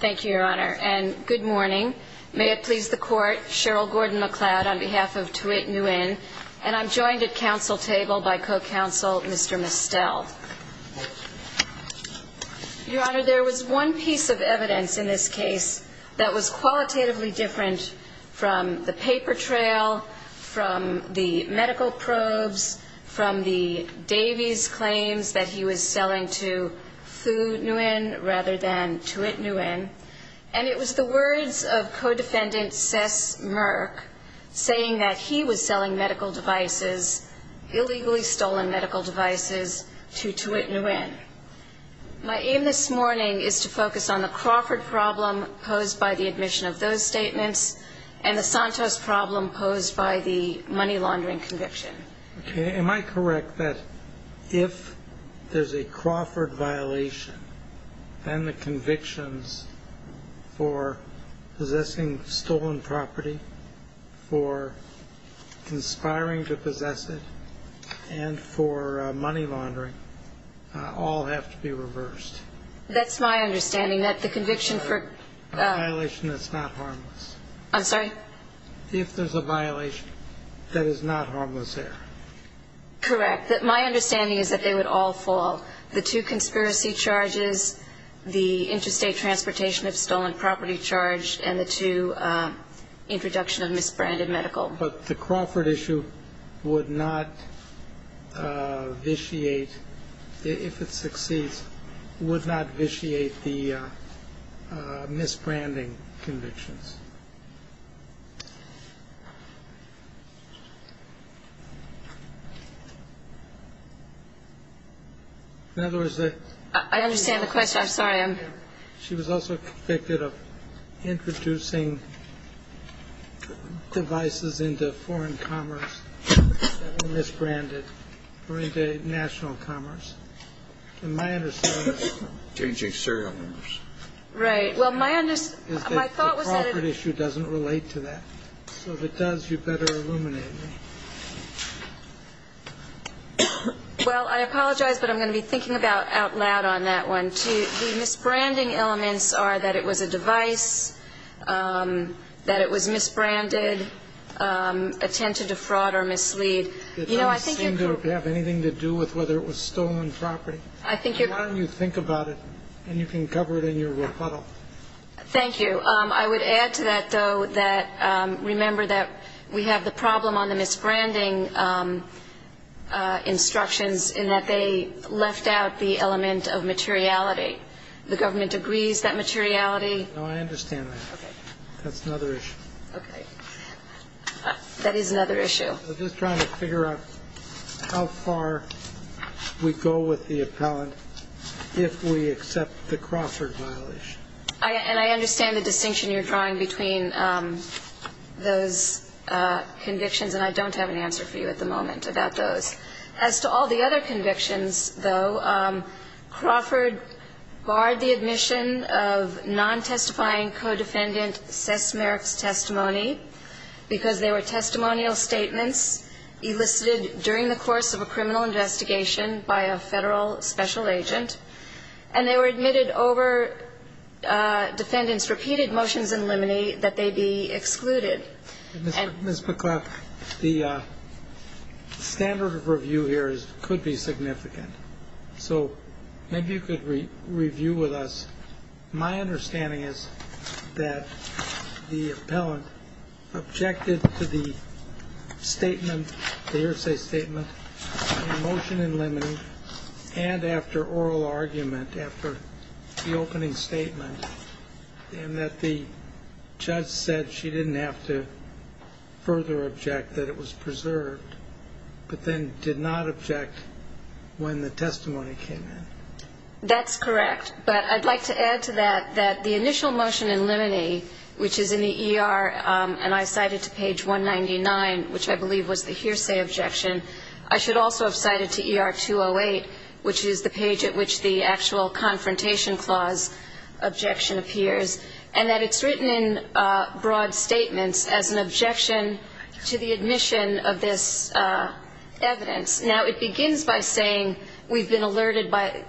thank you your honor and good morning may it please the court Cheryl Gordon MacLeod on behalf of Thu Nguyen and I'm joined at council table by co-counsel mr. Mistel your honor there was one piece of evidence in this case that was qualitatively different from the paper trail from the medical probes from the Davies claims that he was selling to Thu Nguyen rather than to it Nguyen and it was the words of co-defendant Cess Merck saying that he was selling medical devices illegally stolen medical devices to Thu Nguyen my aim this morning is to focus on the Crawford problem posed by the admission of those statements and the Santos problem posed by the money laundering conviction okay am I correct that if there's a Crawford violation and the convictions for possessing stolen property for conspiring to possess it and for money laundering all have to be reversed that's my understanding that the conviction for a violation that's not harmless I'm sorry if there's a violation that is not harmless there correct that my understanding is that they would all fall the two conspiracy charges the interstate transportation of stolen property charge and the two introduction of misbranded medical but the Crawford issue would not vitiate if it succeeds would not vitiate the misbranding convictions in other words that I understand the question I'm sorry I'm she was also convicted of introducing devices into foreign commerce misbranded or into national commerce and my understanding is changing serial numbers right well my thought was that the Crawford issue doesn't relate to that so if it does you better well I apologize but I'm going to be thinking about out loud on that one too the misbranding elements are that it was a device that it was misbranded attempted to fraud or mislead you know I think you don't have anything to do with whether it was stolen property I think you why don't you think about it and you can cover it in your rebuttal thank you I would add to that though that remember that we have the problem on the misbranding instructions in that they left out the element of materiality the government agrees that materiality no I understand that okay that's another issue okay that is another issue I'm just trying to figure out how far we go with the appellant if we accept the Crawford violation I and I convictions and I don't have an answer for you at the moment about those as to all the other convictions though Crawford barred the admission of non-testifying co-defendant sesmeric testimony because they were testimonial statements elicited during the course of a criminal investigation by a federal special agent and they were admitted over defendants repeated motions in this because the standard of review here is could be significant so maybe you could read review with us my understanding is that the appellant objected to the statement the hearsay statement motion in lemon and after oral argument after the opening statement and that the judge said she didn't have to further object that it was preserved but then did not object when the testimony came in that's correct but I'd like to add to that that the initial motion in limine which is in the ER and I cited to page 199 which I believe was the hearsay objection I should also have cited to ER 208 which is the page at which the actual confrontation clause objection appears and that it's written in broad statements as an objection to the admission of this evidence now it begins by saying we've been alerted by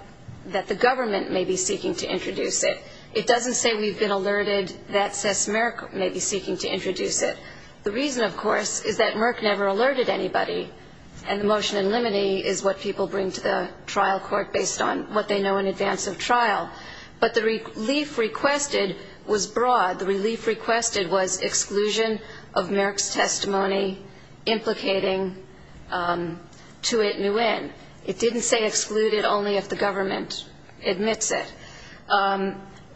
that the government may be seeking to introduce it it doesn't say we've been alerted that sesmeric may be seeking to introduce it the reason of course is that Merck never alerted anybody and the motion in limine is what people bring to the trial court based on what they know in advance of trial but the relief requested was broad the relief requested was exclusion of Merck's testimony implicating to it new in it didn't say excluded only if the government admits it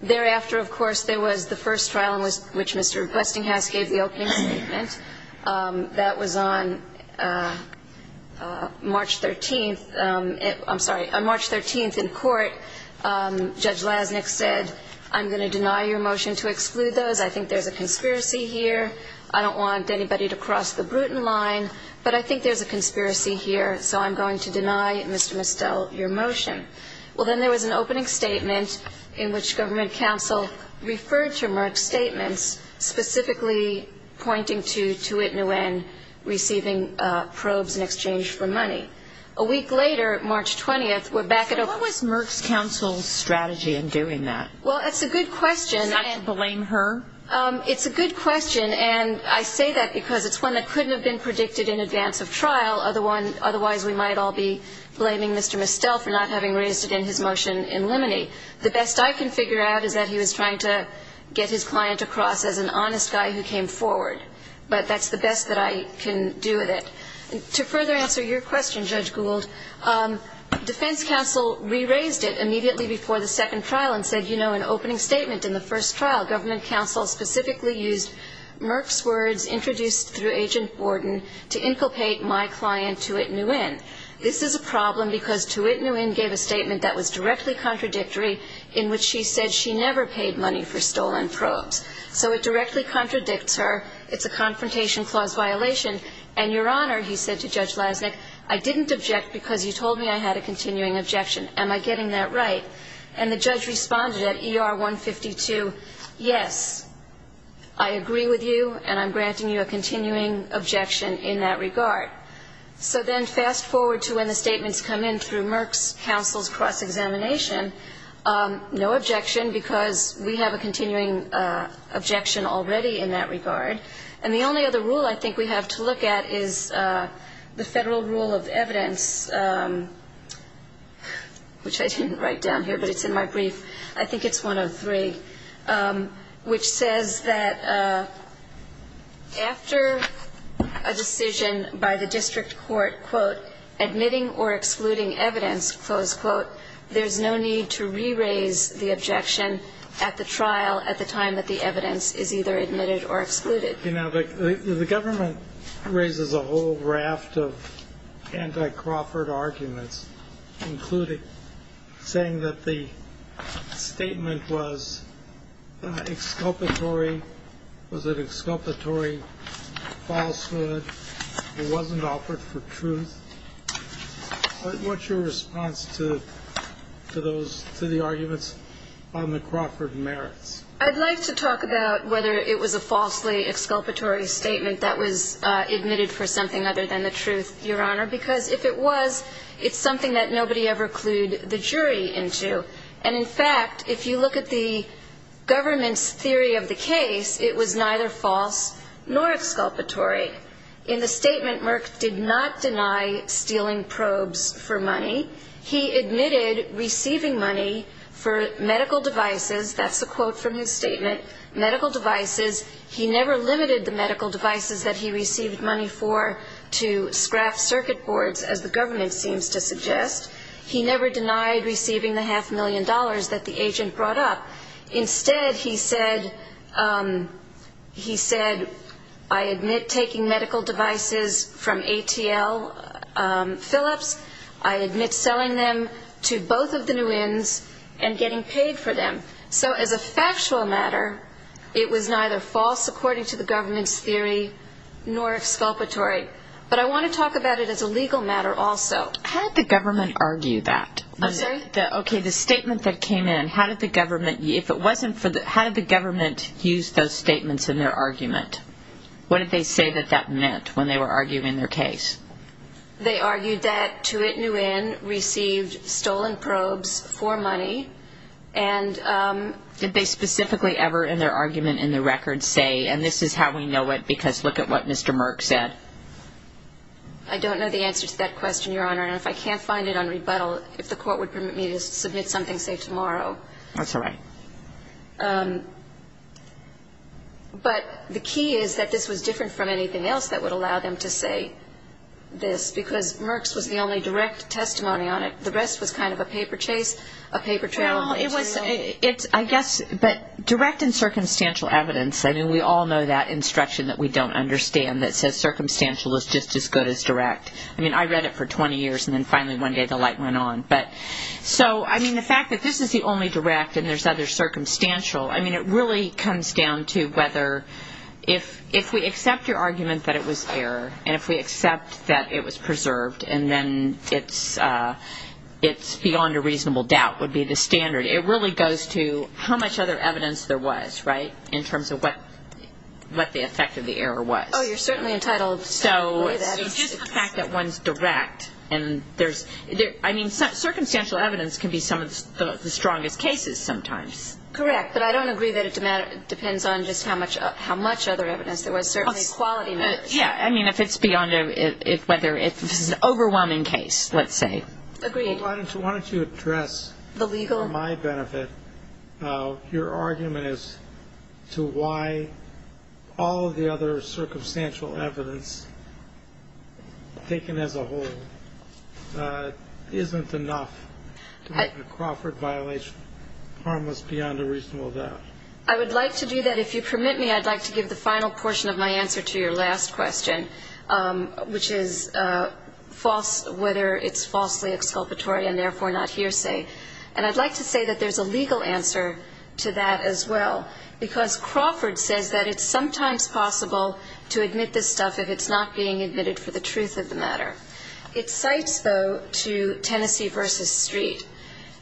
thereafter of course there was the first trial was which mr. requesting house gave the opening statement that was on March 13th I'm sorry on March 13th in court judge lasnik said I'm gonna deny your motion to exclude those I think there's a conspiracy here I don't want anybody to cross the Bruton line but I think there's a conspiracy here so I'm going to deny mr. mistel your motion well then there was an opening statement in which government counsel referred to Merck's statements specifically pointing to to it new and receiving probes in exchange for money a week later March 20th we're back at a what was Merck's counsel strategy in doing that well that's a good question and blame her it's a good question and I say that because it's one that couldn't have been predicted in advance of trial other one otherwise we might all be blaming mr. mistel for not having raised it in his motion in limine the best I can figure out is that he was trying to get his client across as an honest guy who came forward but that's the best that I can do with it to further answer your question judge Gould defense counsel re-raised it immediately before the second trial and said you know an opening statement in the first trial government counsel specifically used Merck's words introduced through agent Wharton to inculcate my client to it new in this is a problem because to it new in gave a statement that was so it directly contradicts her it's a confrontation clause violation and your honor he said to judge lasnik I didn't object because you told me I had a continuing objection am I getting that right and the judge responded at er 152 yes I agree with you and I'm granting you a continuing objection in that regard so then fast forward to when the statements come in through Merck's counsel's cross-examination no objection because we have a continuing objection already in that regard and the only other rule I think we have to look at is the federal rule of evidence which I didn't write down here but it's in my brief I think it's 103 which says that after a decision by the district court admitting or excluding evidence close quote there's no need to re-raise the objection at the trial at the time that the evidence is either admitted or excluded you know the government raises a whole raft of anti Crawford arguments including saying that the statement was exculpatory was it exculpatory falsehood it wasn't offered for truth what's your response to those to the arguments on the Crawford merits I'd like to talk about whether it was a falsely exculpatory statement that was admitted for something other than the truth your honor because if it was it's something that nobody ever clued the jury into and in fact if you look at the government's theory of the case it was neither false nor exculpatory in the statement Merck did not deny stealing probes for money he admitted receiving money for medical devices that's a quote from his statement medical devices he never limited the medical devices that he received money for to scrap circuit boards as the government seems to suggest he never denied receiving the half million dollars that the agent brought up instead he said he said I admit taking medical devices from ATL Phillips I admit selling them to both of the new ends and getting paid for them so as a factual matter it was neither false according to the government's theory nor exculpatory but I want to talk about it as a legal matter also how did the government argue that okay the statement that came in how did the government if it wasn't for the how did the government use those statements in their argument what did they say that that meant when they were arguing their case they argued that to it new in received stolen probes for money and did they specifically ever in their argument in the record say and this is how we know it because look at what mr. Merck said I don't know the answer to that question your honor and if I can't find it on rebuttal if the court would permit me to submit something say tomorrow that's all right but the key is that this was different from anything else that would allow them to say this because Merck's was the only direct testimony on it the rest was kind of a paper chase a paper trail it was it's I guess but direct and circumstantial evidence I mean we all know that instruction that we don't understand that says circumstantial is just as good as direct I mean I read it for 20 years and then finally one day the light went on but so I mean the fact that this is the only direct and there's other circumstantial I mean it really comes down to whether if if we accept your argument that it was error and if we accept that it was preserved and then it's it's beyond a reasonable doubt would be the standard it really goes to how much other evidence there was right in terms of what what the effect of the error was oh you're certainly entitled so just the fact that one's direct and there's I mean circumstantial evidence can be some of the strongest cases sometimes correct but I don't agree that it depends on just how much how much other evidence there was certainly quality yeah I mean if it's beyond it whether it's an overwhelming case let's say agreed why don't you want to address the legal my benefit your argument is to why all the other circumstantial evidence taken as a whole isn't enough Crawford violation harmless beyond a reasonable doubt I would like to do that if you permit me I'd like to give the final portion of my answer to your last question which is false whether it's falsely exculpatory and therefore not hearsay and I'd like to say that there's a legal answer to that as well because Crawford says that it's sometimes possible to admit this stuff if it's not being admitted for the truth of the matter it cites though to Tennessee versus Street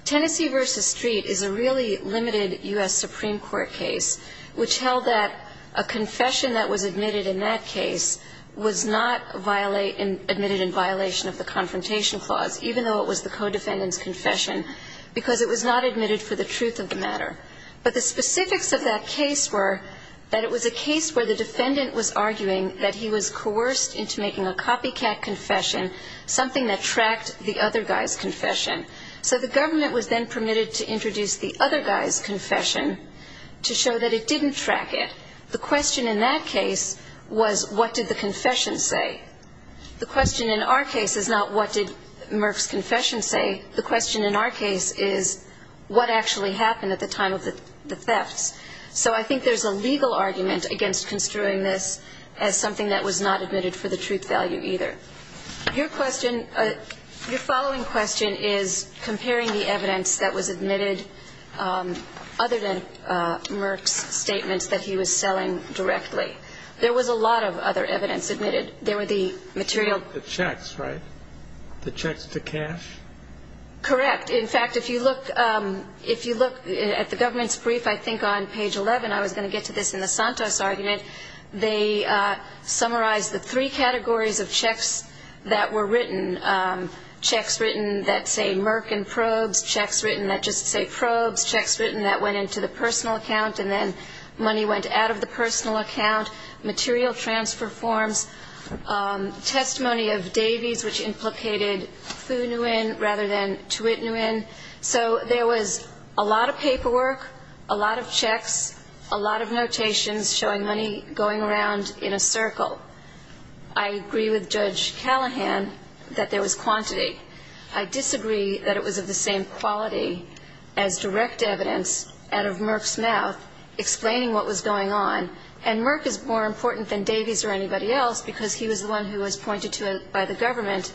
Tennessee versus Street is a really limited US Supreme Court case which held that a confession that was admitted in that case was not violate and admitted in violation of the confrontation clause even though it was the co-defendants confession because it was not admitted for the truth of the matter but the specifics of that case were that it was a case where the defendant was arguing that he was coerced into making a copycat confession something that tracked the other guys confession so the government was then permitted to introduce the other guys confession to show that it didn't track it the question in that case was what did the confession say the question in our case is not what did Murph's confession say the question in our case is what actually happened at the time of the thefts so I think there's a legal argument against construing this as something that was not admitted for the truth value either your question your following question is comparing the evidence that was admitted other than Murph's statements that he was selling directly there was a lot of other evidence admitted there were the material the checks right the checks to cash correct in fact if you look if you look at the government's brief I think on page 11 I was going to get to this in the Santos argument they summarize the three categories of checks that were written checks written that say Merck and probes checks written that just say probes checks written that went into the personal account and then money went out of the personal account material transfer forms testimony of Davies which implicated Fu Nguyen rather than Thuy Nguyen so there was a lot of paperwork a lot of checks a lot of notations showing money going around in a circle I agree with Judge Callahan that there was quantity I disagree that it was of the same quality as direct evidence out of Murph's mouth explaining what was going on and Merck is more than likely to have pointed to Davies or anybody else because he was the one who was pointed to it by the government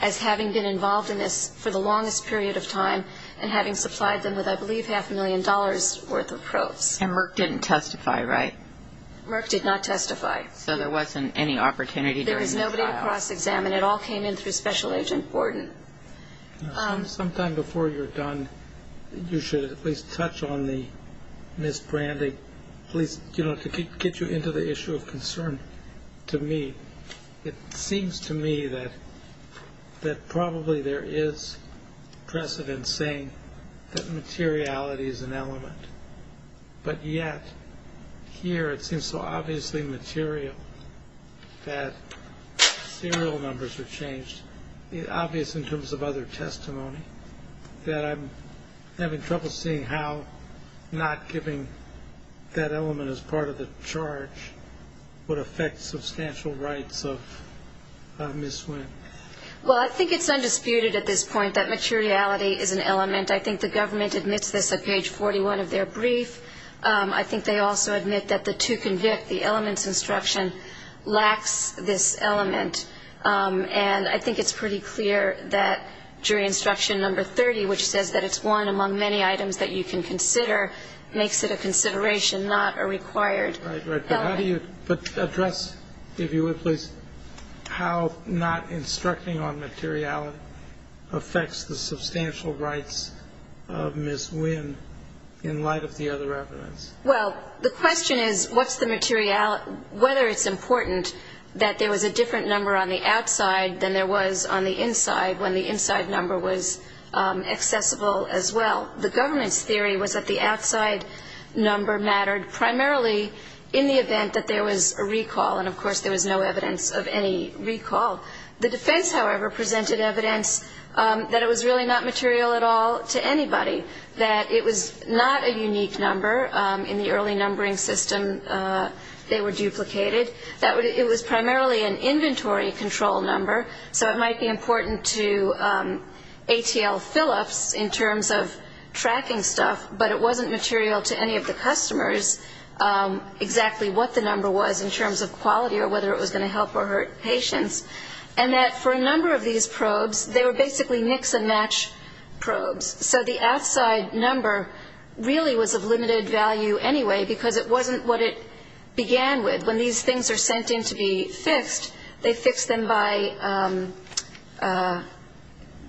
as having been involved in this for the longest period of time and having supplied them with I believe half a million dollars worth of probes and Merck didn't testify right Merck did not testify so there wasn't any opportunity there is nobody to cross-examine it all came in through special agent Gordon sometime before you're done you should at least touch on the misbranding please you know to get you into the issue of concern to me it seems to me that that probably there is precedent saying that materiality is an element but yet here it seems so obviously material that serial numbers have changed the obvious in terms of other testimony that I'm having trouble seeing how not giving that element as part of the charge would affect substantial rights of miss when well I think it's undisputed at this point that materiality is an element I think the government admits this at page 41 of their brief I think they also admit that the to convict the elements instruction lacks this element and I think it's pretty clear that jury instruction number 30 which says that it's one among many items that you can consider makes it a consideration not a required address if you would please how not instructing on materiality affects the substantial rights of miss win in light of the other evidence well the question is what's the material whether it's important that there was a different number on the outside than there was on the inside when the inside number was accessible as well the government's theory was that the outside number mattered primarily in the event that there was a recall and of course there was no evidence of any recall the defense however presented evidence that it was really not material at all to anybody that it was not a unique number in the early numbering system they were duplicated that it was primarily an inventory control number so it might be important to ATL Philips in terms of tracking stuff but it wasn't material to any of the customers exactly what the number was in terms of quality or whether it was going to help or hurt patients and that for a number of these probes they were basically Nixon match probes so the outside number really was of limited value anyway because it they fixed them by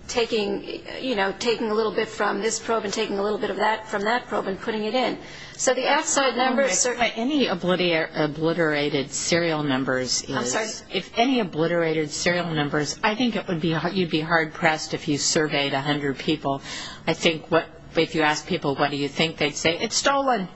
taking you know taking a little bit from this probe and taking a little bit of that from that probe and putting it in so the outside numbers are any obliterated serial numbers if any obliterated serial numbers I think it would be you'd be hard-pressed if you surveyed a hundred people I think what if you ask people what do you think they'd say it's stolen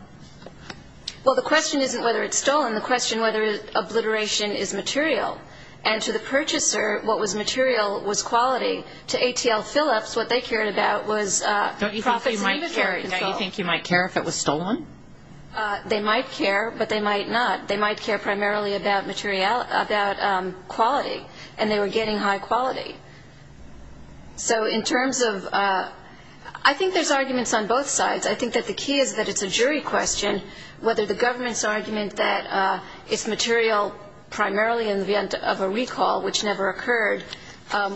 well the question isn't whether it's stolen the question whether obliteration is material and to the purchaser what was material was quality to ATL Philips what they cared about was don't you think you might care if it was stolen they might care but they might not they might care primarily about material about quality and they were getting high quality so in terms of I think there's arguments on both sides I think that the key is that it's a jury question whether the government's argument that it's material primarily in the end of a recall which never occurred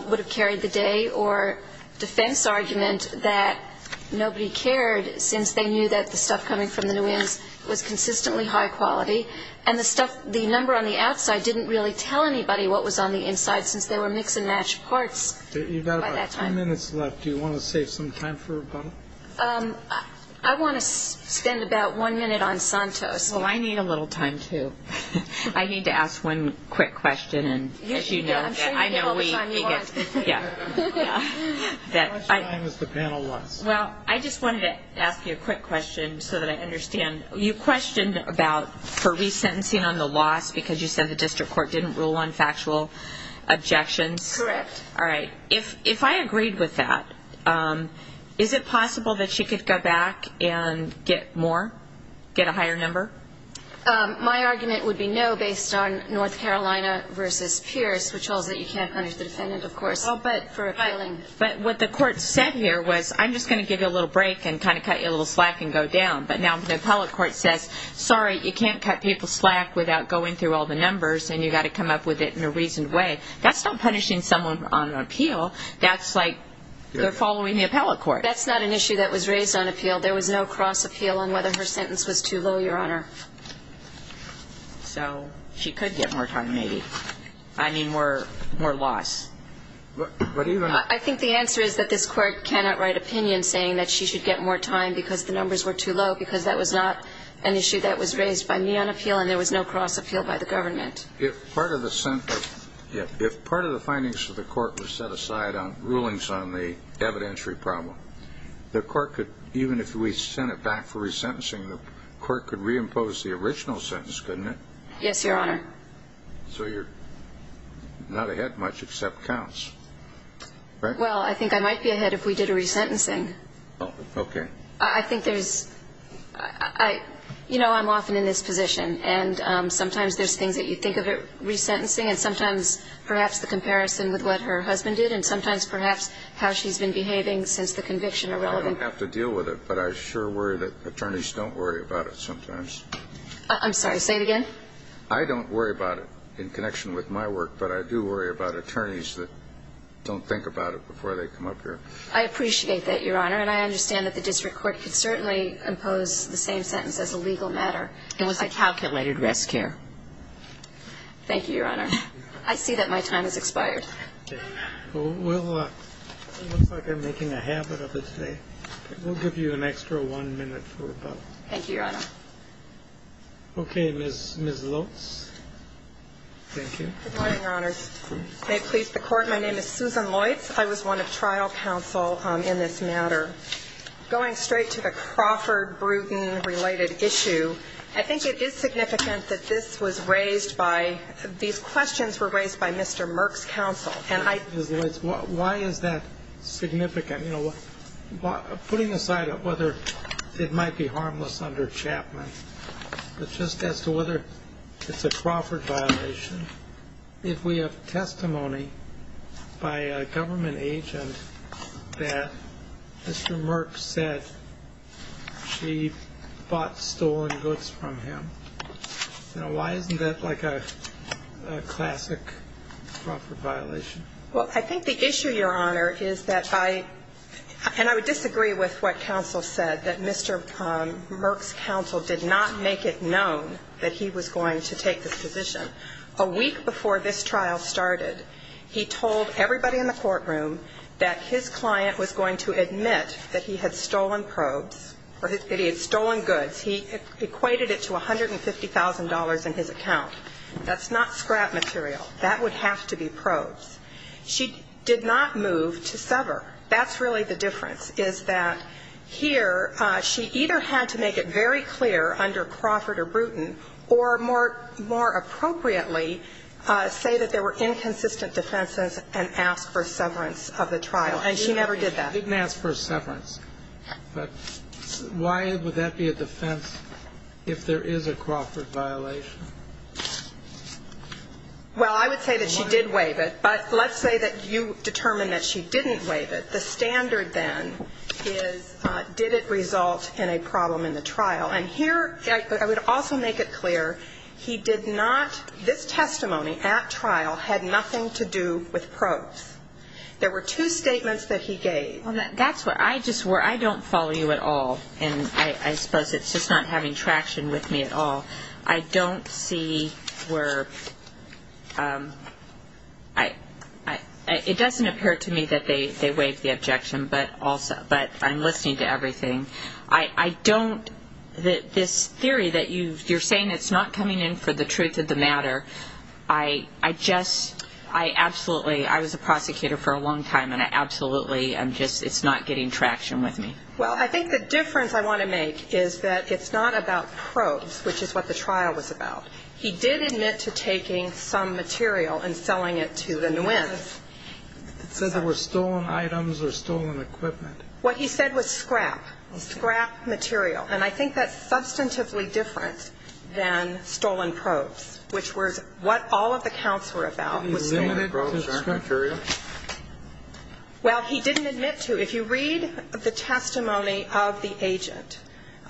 would have carried the day or defense argument that nobody cared since they knew that the stuff coming from the new is was consistently high quality and the stuff the number on the outside didn't really tell anybody what was on the inside since they were mix-and-match parts you've got a minute's left do you want to save some time for a bottle I want to spend about one minute on Santos well I need a little time too I need to ask one quick question and as you know I know we well I just wanted to ask you a quick question so that I understand you questioned about for resentencing on the loss because you said the district court didn't rule on factual objections correct all right if I agreed with that is it possible that she could go back and get more get a higher number my argument would be no based on North Carolina versus Pierce which holds that you can't punish the defendant of course I'll bet for filing but what the court said here was I'm just gonna give you a little break and kind of cut you a little slack and go down but now the appellate court says sorry you can't cut people slack without going through all the numbers and you got to come up with it in a reason way that's not punishing someone on an that's like they're following the appellate court that's not an issue that was raised on appeal there was no cross appeal on whether her sentence was too low your honor so she could get more time maybe I mean we're more loss but even I think the answer is that this court cannot write opinion saying that she should get more time because the numbers were too low because that was not an issue that was raised by me on appeal and there was no cross appeal by the government if part of the center if part of the findings for the court was set aside on rulings on the evidentiary problem the court could even if we sent it back for resentencing the court could reimpose the original sentence couldn't it yes your honor so you're not ahead much except counts right well I think I might be ahead if we did a resentencing okay I think there's I you know I'm often in this position and sometimes there's things that you think of it sentencing and sometimes perhaps the comparison with what her husband did and sometimes perhaps how she's been behaving since the conviction irrelevant have to deal with it but I sure worry that attorneys don't worry about it sometimes I'm sorry say it again I don't worry about it in connection with my work but I do worry about attorneys that don't think about it before they come up here I appreciate that your honor and I understand that the district court could certainly impose the same sentence as a legal matter it was a calculated risk here thank you your honor I see that my time has expired I'm making a habit of it today we'll give you an extra one minute for about thank you your honor okay miss miss Lutz thank you may it please the court my name is Susan Lloyd's I was one of trial counsel in this matter going straight to the Crawford Bruton related issue I think it is significant that this was raised by these questions were raised by mr. Merck's counsel and I why is that significant you know what putting aside of whether it might be harmless under Chapman but just as to whether it's a Crawford violation if we have testimony by a government agent that mr. Merck said she bought stolen goods from him now why isn't that like a classic violation well I think the issue your honor is that by and I would disagree with what counsel said that mr. Merck's counsel did not make it known that he was going to take this position a week before this trial started he told everybody in the courtroom that his client was going to admit that he had stolen probes or he had stolen goods he equated it to a hundred and fifty thousand dollars in his account that's not scrap material that would have to be probes she did not move to sever that's really the difference is that here she either had to make it very clear under appropriately say that there were inconsistent defenses and ask for severance of the trial and she never did that didn't ask for severance but why would that be a defense if there is a Crawford violation well I would say that she did waive it but let's say that you determine that she didn't waive it the standard then is did it result in a problem in the trial and here I would also make it this testimony at trial had nothing to do with probes there were two statements that he gave that's what I just where I don't follow you at all and I suppose it's just not having traction with me at all I don't see where I it doesn't appear to me that they they waive the objection but also but I'm listening to everything I don't that this theory that you you're saying it's not coming in for the truth of the matter I I just I absolutely I was a prosecutor for a long time and I absolutely I'm just it's not getting traction with me well I think the difference I want to make is that it's not about probes which is what the trial was about he did admit to taking some material and selling it to the new ends so there were stolen items or stolen equipment what he said was scrap scrap material and I think that's substantively different than stolen probes which was what all of the counts were about well he didn't admit to if you read the testimony of the agent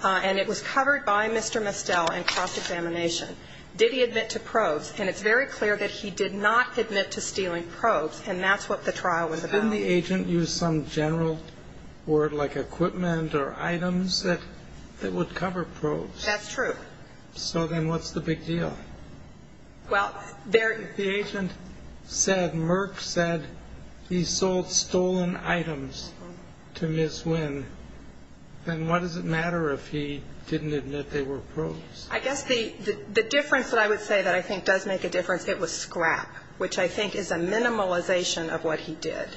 and it was covered by mr. Mistel and cross-examination did he admit to probes and it's very clear that he did not admit to stealing probes and that's what the trial was about the agent use some general word like equipment or items that that would cover probes that's true so then what's the big deal well they're the agent said Merck said he sold stolen items to miss when then what does it matter if he didn't admit they were probes I guess the the difference that I would say that I think does make a difference it was scrap which I think is a minimalization of what he did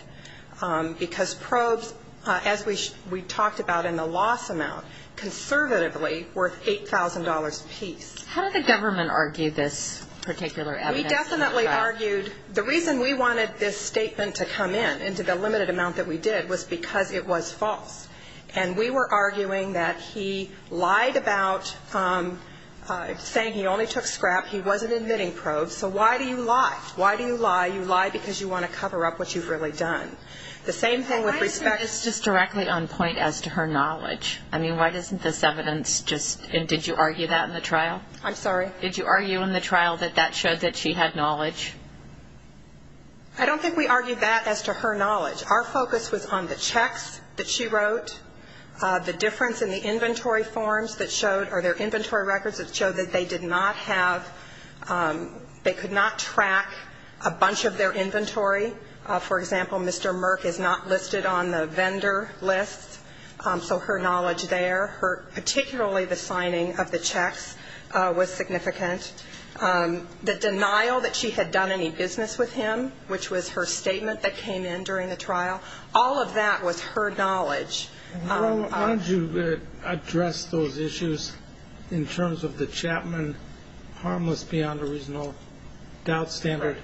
because probes as we we talked about in the loss amount conservatively worth $8,000 piece how did the government argue this particular we definitely argued the reason we wanted this statement to come in into the limited amount that we did was because it was false and we were arguing that he lied about saying he only took scrap he wasn't admitting probes so why do you lie why do you lie you lie because you want to cover up what you've really done the same thing with respect it's just directly on point as to her knowledge I did you argue that in the trial I'm sorry did you argue in the trial that that showed that she had knowledge I don't think we argued that as to her knowledge our focus was on the checks that she wrote the difference in the inventory forms that showed or their inventory records that showed that they did not have they could not track a bunch of their inventory for example mr. Merck is not listed on the vendor lists so her knowledge there her particularly the signing of the checks was significant the denial that she had done any business with him which was her statement that came in during the trial all of that was her knowledge how did you address those issues in terms of the Chapman harmless beyond a reasonable doubt standard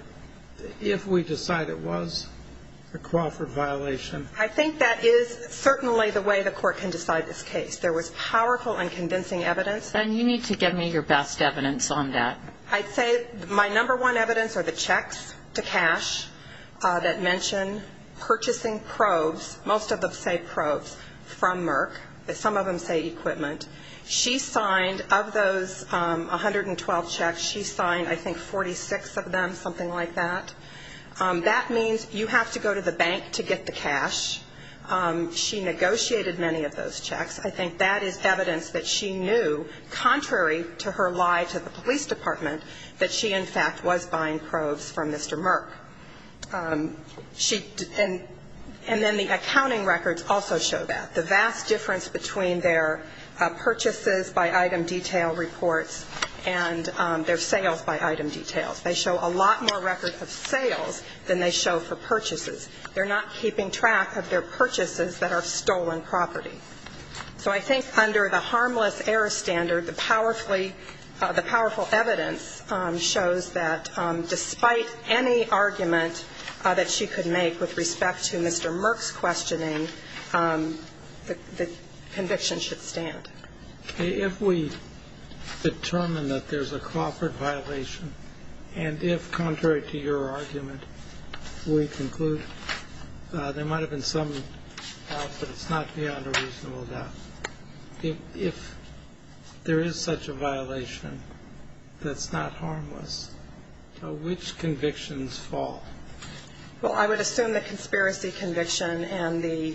if we decide it was a Crawford violation I think that is certainly the way the court can decide this case there was powerful and convincing evidence and you need to give me your best evidence on that I'd say my number one evidence are the checks to cash that mention purchasing probes most of them say probes from Merck but some of them say equipment she signed of those 112 checks she signed I think 46 of them something like that that means you have to go to the bank to get the checks I think that is evidence that she knew contrary to her lie to the police department that she in fact was buying probes from mr. Merck she and and then the accounting records also show that the vast difference between their purchases by item detail reports and their sales by item details they show a lot more record of sales than they show for purchases they're not keeping track of their purchases that are stolen property so I think under the harmless error standard the powerfully the powerful evidence shows that despite any argument that she could make with respect to mr. Merck's questioning the conviction should stand if we determine that there's a Crawford violation and if contrary to your argument we conclude there might have been some it's not beyond a reasonable doubt if there is such a violation that's not harmless which convictions fall well I would assume the conspiracy conviction and the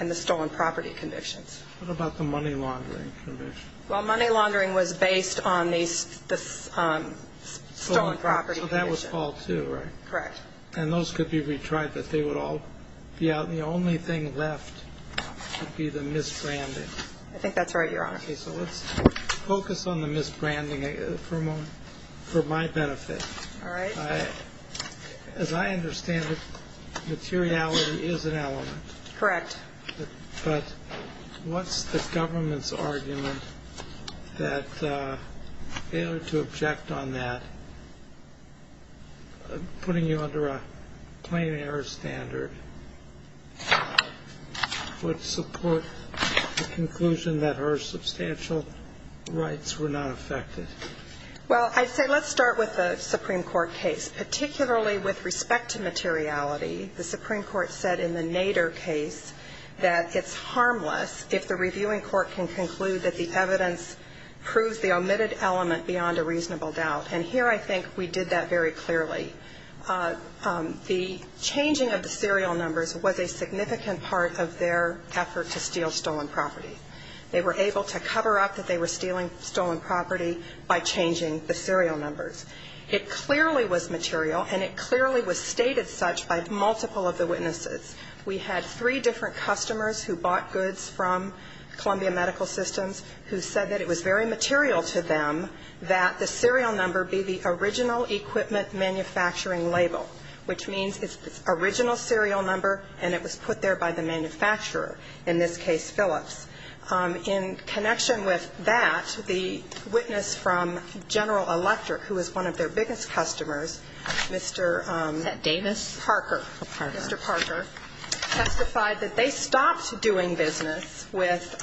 and the stolen property convictions what about the money laundering well money property that was all too right correct and those could be retried that they would all be out the only thing left would be the misbranding I think that's right your honor so let's focus on the misbranding for a moment for my benefit all right as I understand it materiality is an element correct but what's the putting you under a plane air standard would support the conclusion that her substantial rights were not affected well I'd say let's start with the Supreme Court case particularly with respect to materiality the Supreme Court said in the nadir case that it's harmless if the reviewing court can conclude that the evidence proves the omitted element beyond a reasonable doubt and here I think we did that very clearly the changing of the serial numbers was a significant part of their effort to steal stolen property they were able to cover up that they were stealing stolen property by changing the serial numbers it clearly was material and it clearly was stated such by multiple of the witnesses we had three different customers who bought goods from Columbia Medical Systems who said that it was very material to them that the serial number be the original equipment manufacturing label which means its original serial number and it was put there by the manufacturer in this case Phillips in connection with that the witness from General Electric who is one of their biggest customers mr. Davis Parker mr. Parker testified that they stopped doing business with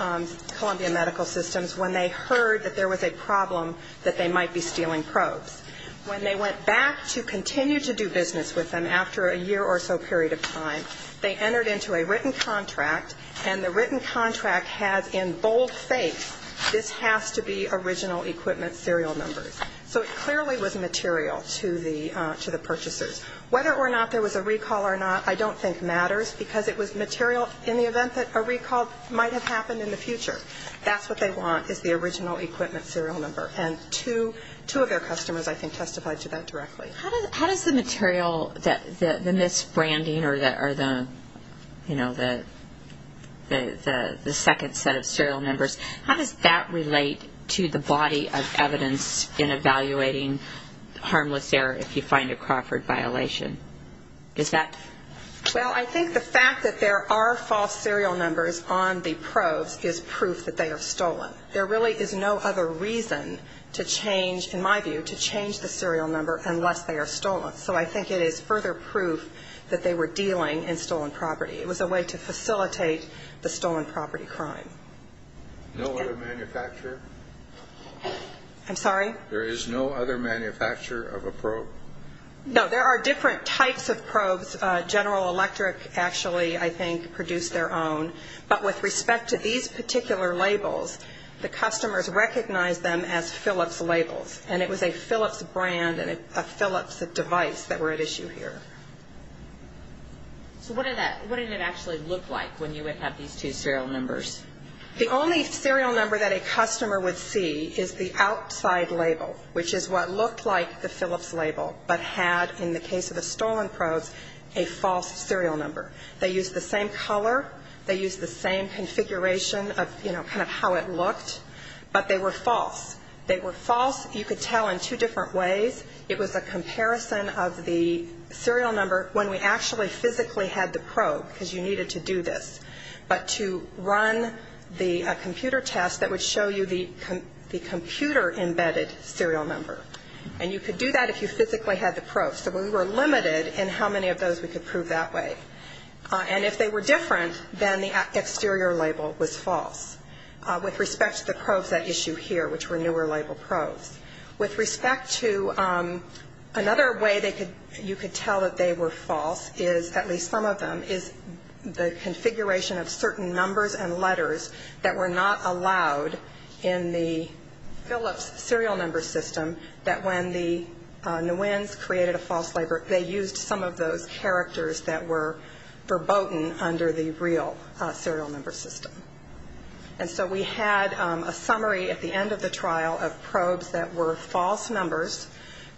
Columbia Medical Systems when they heard that there was a problem that they might be stealing probes when they went back to continue to do business with them after a year or so period of time they entered into a written contract and the written contract has in bold faith this has to be original equipment serial numbers so it clearly was material to the to the purchasers whether or not there was a recall or not I don't think matters because it was material in the event that a recall might have happened in the serial number and to two of their customers I think testified to that directly how does the material that the misbranding or that are the you know that the the second set of serial numbers how does that relate to the body of evidence in evaluating harmless error if you find a Crawford violation is that well I think the fact that there are false serial numbers on the probes is proof that they are stolen there really is no other reason to change in my view to change the serial number unless they are stolen so I think it is further proof that they were dealing in stolen property it was a way to facilitate the stolen property crime I'm sorry there is no other manufacturer of a probe no there are different types of probes General Electric actually I think produced their own but with respect to these particular labels the customers recognize them as Philips labels and it was a Philips brand and a Philips device that were at issue here so what did that what did it actually look like when you would have these two serial numbers the only serial number that a customer would see is the outside label which is what looked like the Philips label but had in the case of the stolen probes a false serial number they used the same color they used the same configuration of you know kind of how it looked but they were false they were false you could tell in two different ways it was a comparison of the serial number when we actually physically had the probe because you needed to do this but to run the computer test that would show you the computer embedded serial number and you could do that if you physically had the probe so we were limited in how many of those we could prove that way and if they were different then the exterior label was false with respect to the probes at issue here which were newer label probes with respect to another way they could you could tell that they were false is at least some of them is the configuration of certain numbers and letters that were not allowed in the Philips serial number system that when the Nguyen's created a false label they used some of those characters that were verboten under the real serial number system and so we had a summary at the end of the trial of probes that were false numbers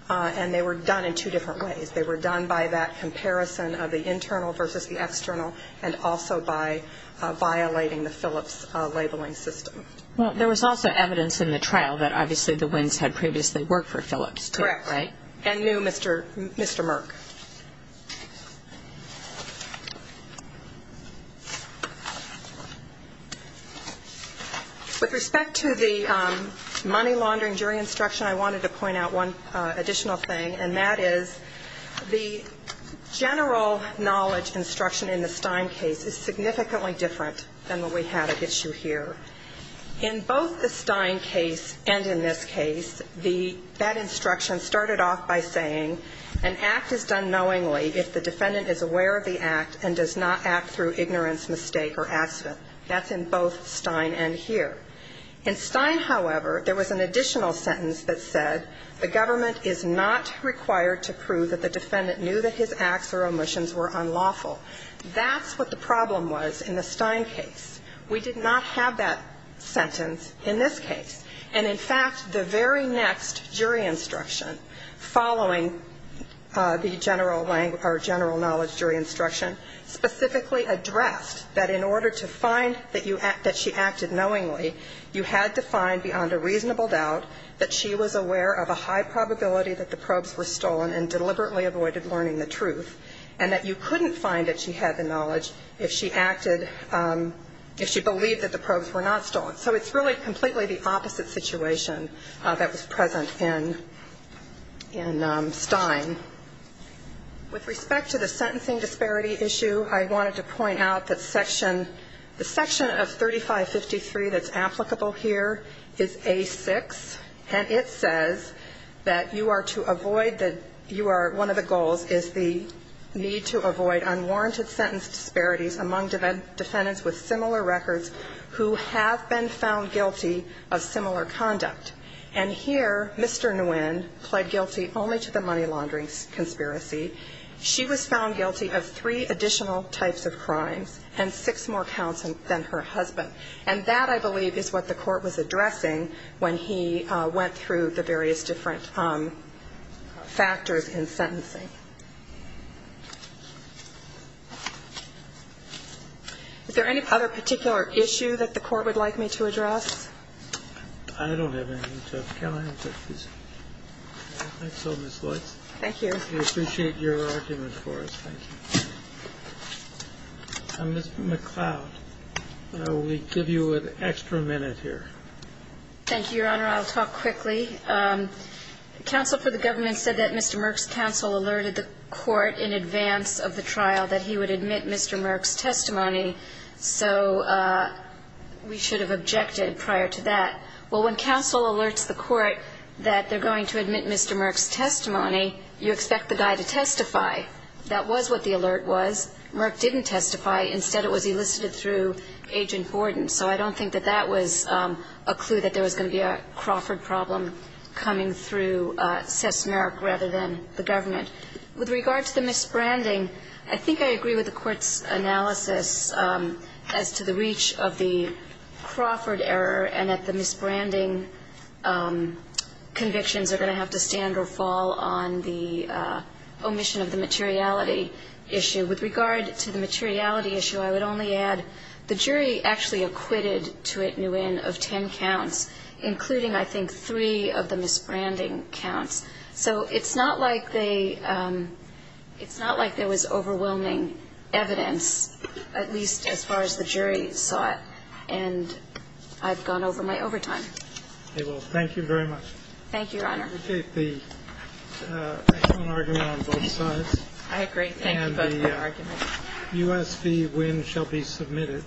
and they were done in two different ways they were done by that comparison of the internal versus the external and also by violating the Philips labeling system. Well there was also evidence in the trial that obviously the Nguyen's had previously worked for Philips. Correct. And knew Mr. Merck. With respect to the money laundering jury instruction I wanted to point out one additional thing and that is the general knowledge instruction in the Stein case is significantly different than what we had at issue here. In both the Stein case and in this case the that instruction started off by saying an act is done knowingly if the defendant is aware of the act and does not act through ignorance mistake or accident. That's in both Stein and here. In Stein, however, there was an additional sentence that said the government is not required to prove that the defendant knew that his acts or omissions were unlawful. That's what the problem was in the Stein case. We did not have that sentence in this case. And in fact, the very next jury instruction following the general knowledge jury instruction specifically addressed that in order to find that she acted knowingly you had to find beyond a reasonable doubt that she was aware of a high probability that the probes were stolen and deliberately avoided learning the truth and that you couldn't find that she had the knowledge if she acted if she believed that the probes were not stolen. So it's really completely the opposite situation that was present in Stein. With respect to the sentencing disparity issue, I wanted to point out that section the section of 3553 that's applicable here is A6 and it says that you are to avoid that you are one of the goals is the need to avoid unwarranted sentence disparities among defendants with similar records who have been found guilty of similar conduct. And here, Mr. Nguyen pled guilty only to the money laundering conspiracy. She was found guilty of three additional types of crimes and six more counts than her husband. And that, I believe, is what the Court was addressing when he went through the various different factors in sentencing. Is there any other particular issue that the Court would like me to address? I don't have anything to add. Can I interrupt you, please? I think so, Ms. Lloyds. Thank you. We appreciate your argument for us. Thank you. Ms. McLeod, we give you an extra minute here. Thank you, Your Honor. I'll talk quickly. Counsel for the government said that Mr. Merck's counsel alerted the Court in advance of the trial that he would admit Mr. Merck's testimony. So we should have objected prior to that. Well, when counsel alerts the Court that they're going to admit Mr. Merck's testimony, you expect the guy to testify. That was what the alert was. Merck didn't testify. Instead, it was elicited through Agent Gordon. So I don't think that that was a clue that there was going to be a Crawford problem coming through Seth Merck rather than the government. With regard to the misbranding, I think I agree with the Court's analysis as to the reach of the Crawford error and that the misbranding convictions are going to have to stand or fall on the omission of the materiality issue. With regard to the materiality issue, I would only add the jury actually acquitted Thuit Nguyen of ten counts, including, I think, three of the misbranding counts. So it's not like they – it's not like there was overwhelming evidence, at least as far as the jury saw it. And I've gone over my overtime. Okay. Well, thank you very much. Thank you, Your Honor. I appreciate the excellent argument on both sides. I agree. Thank you both for the argument. U.S. v. Nguyen shall be submitted.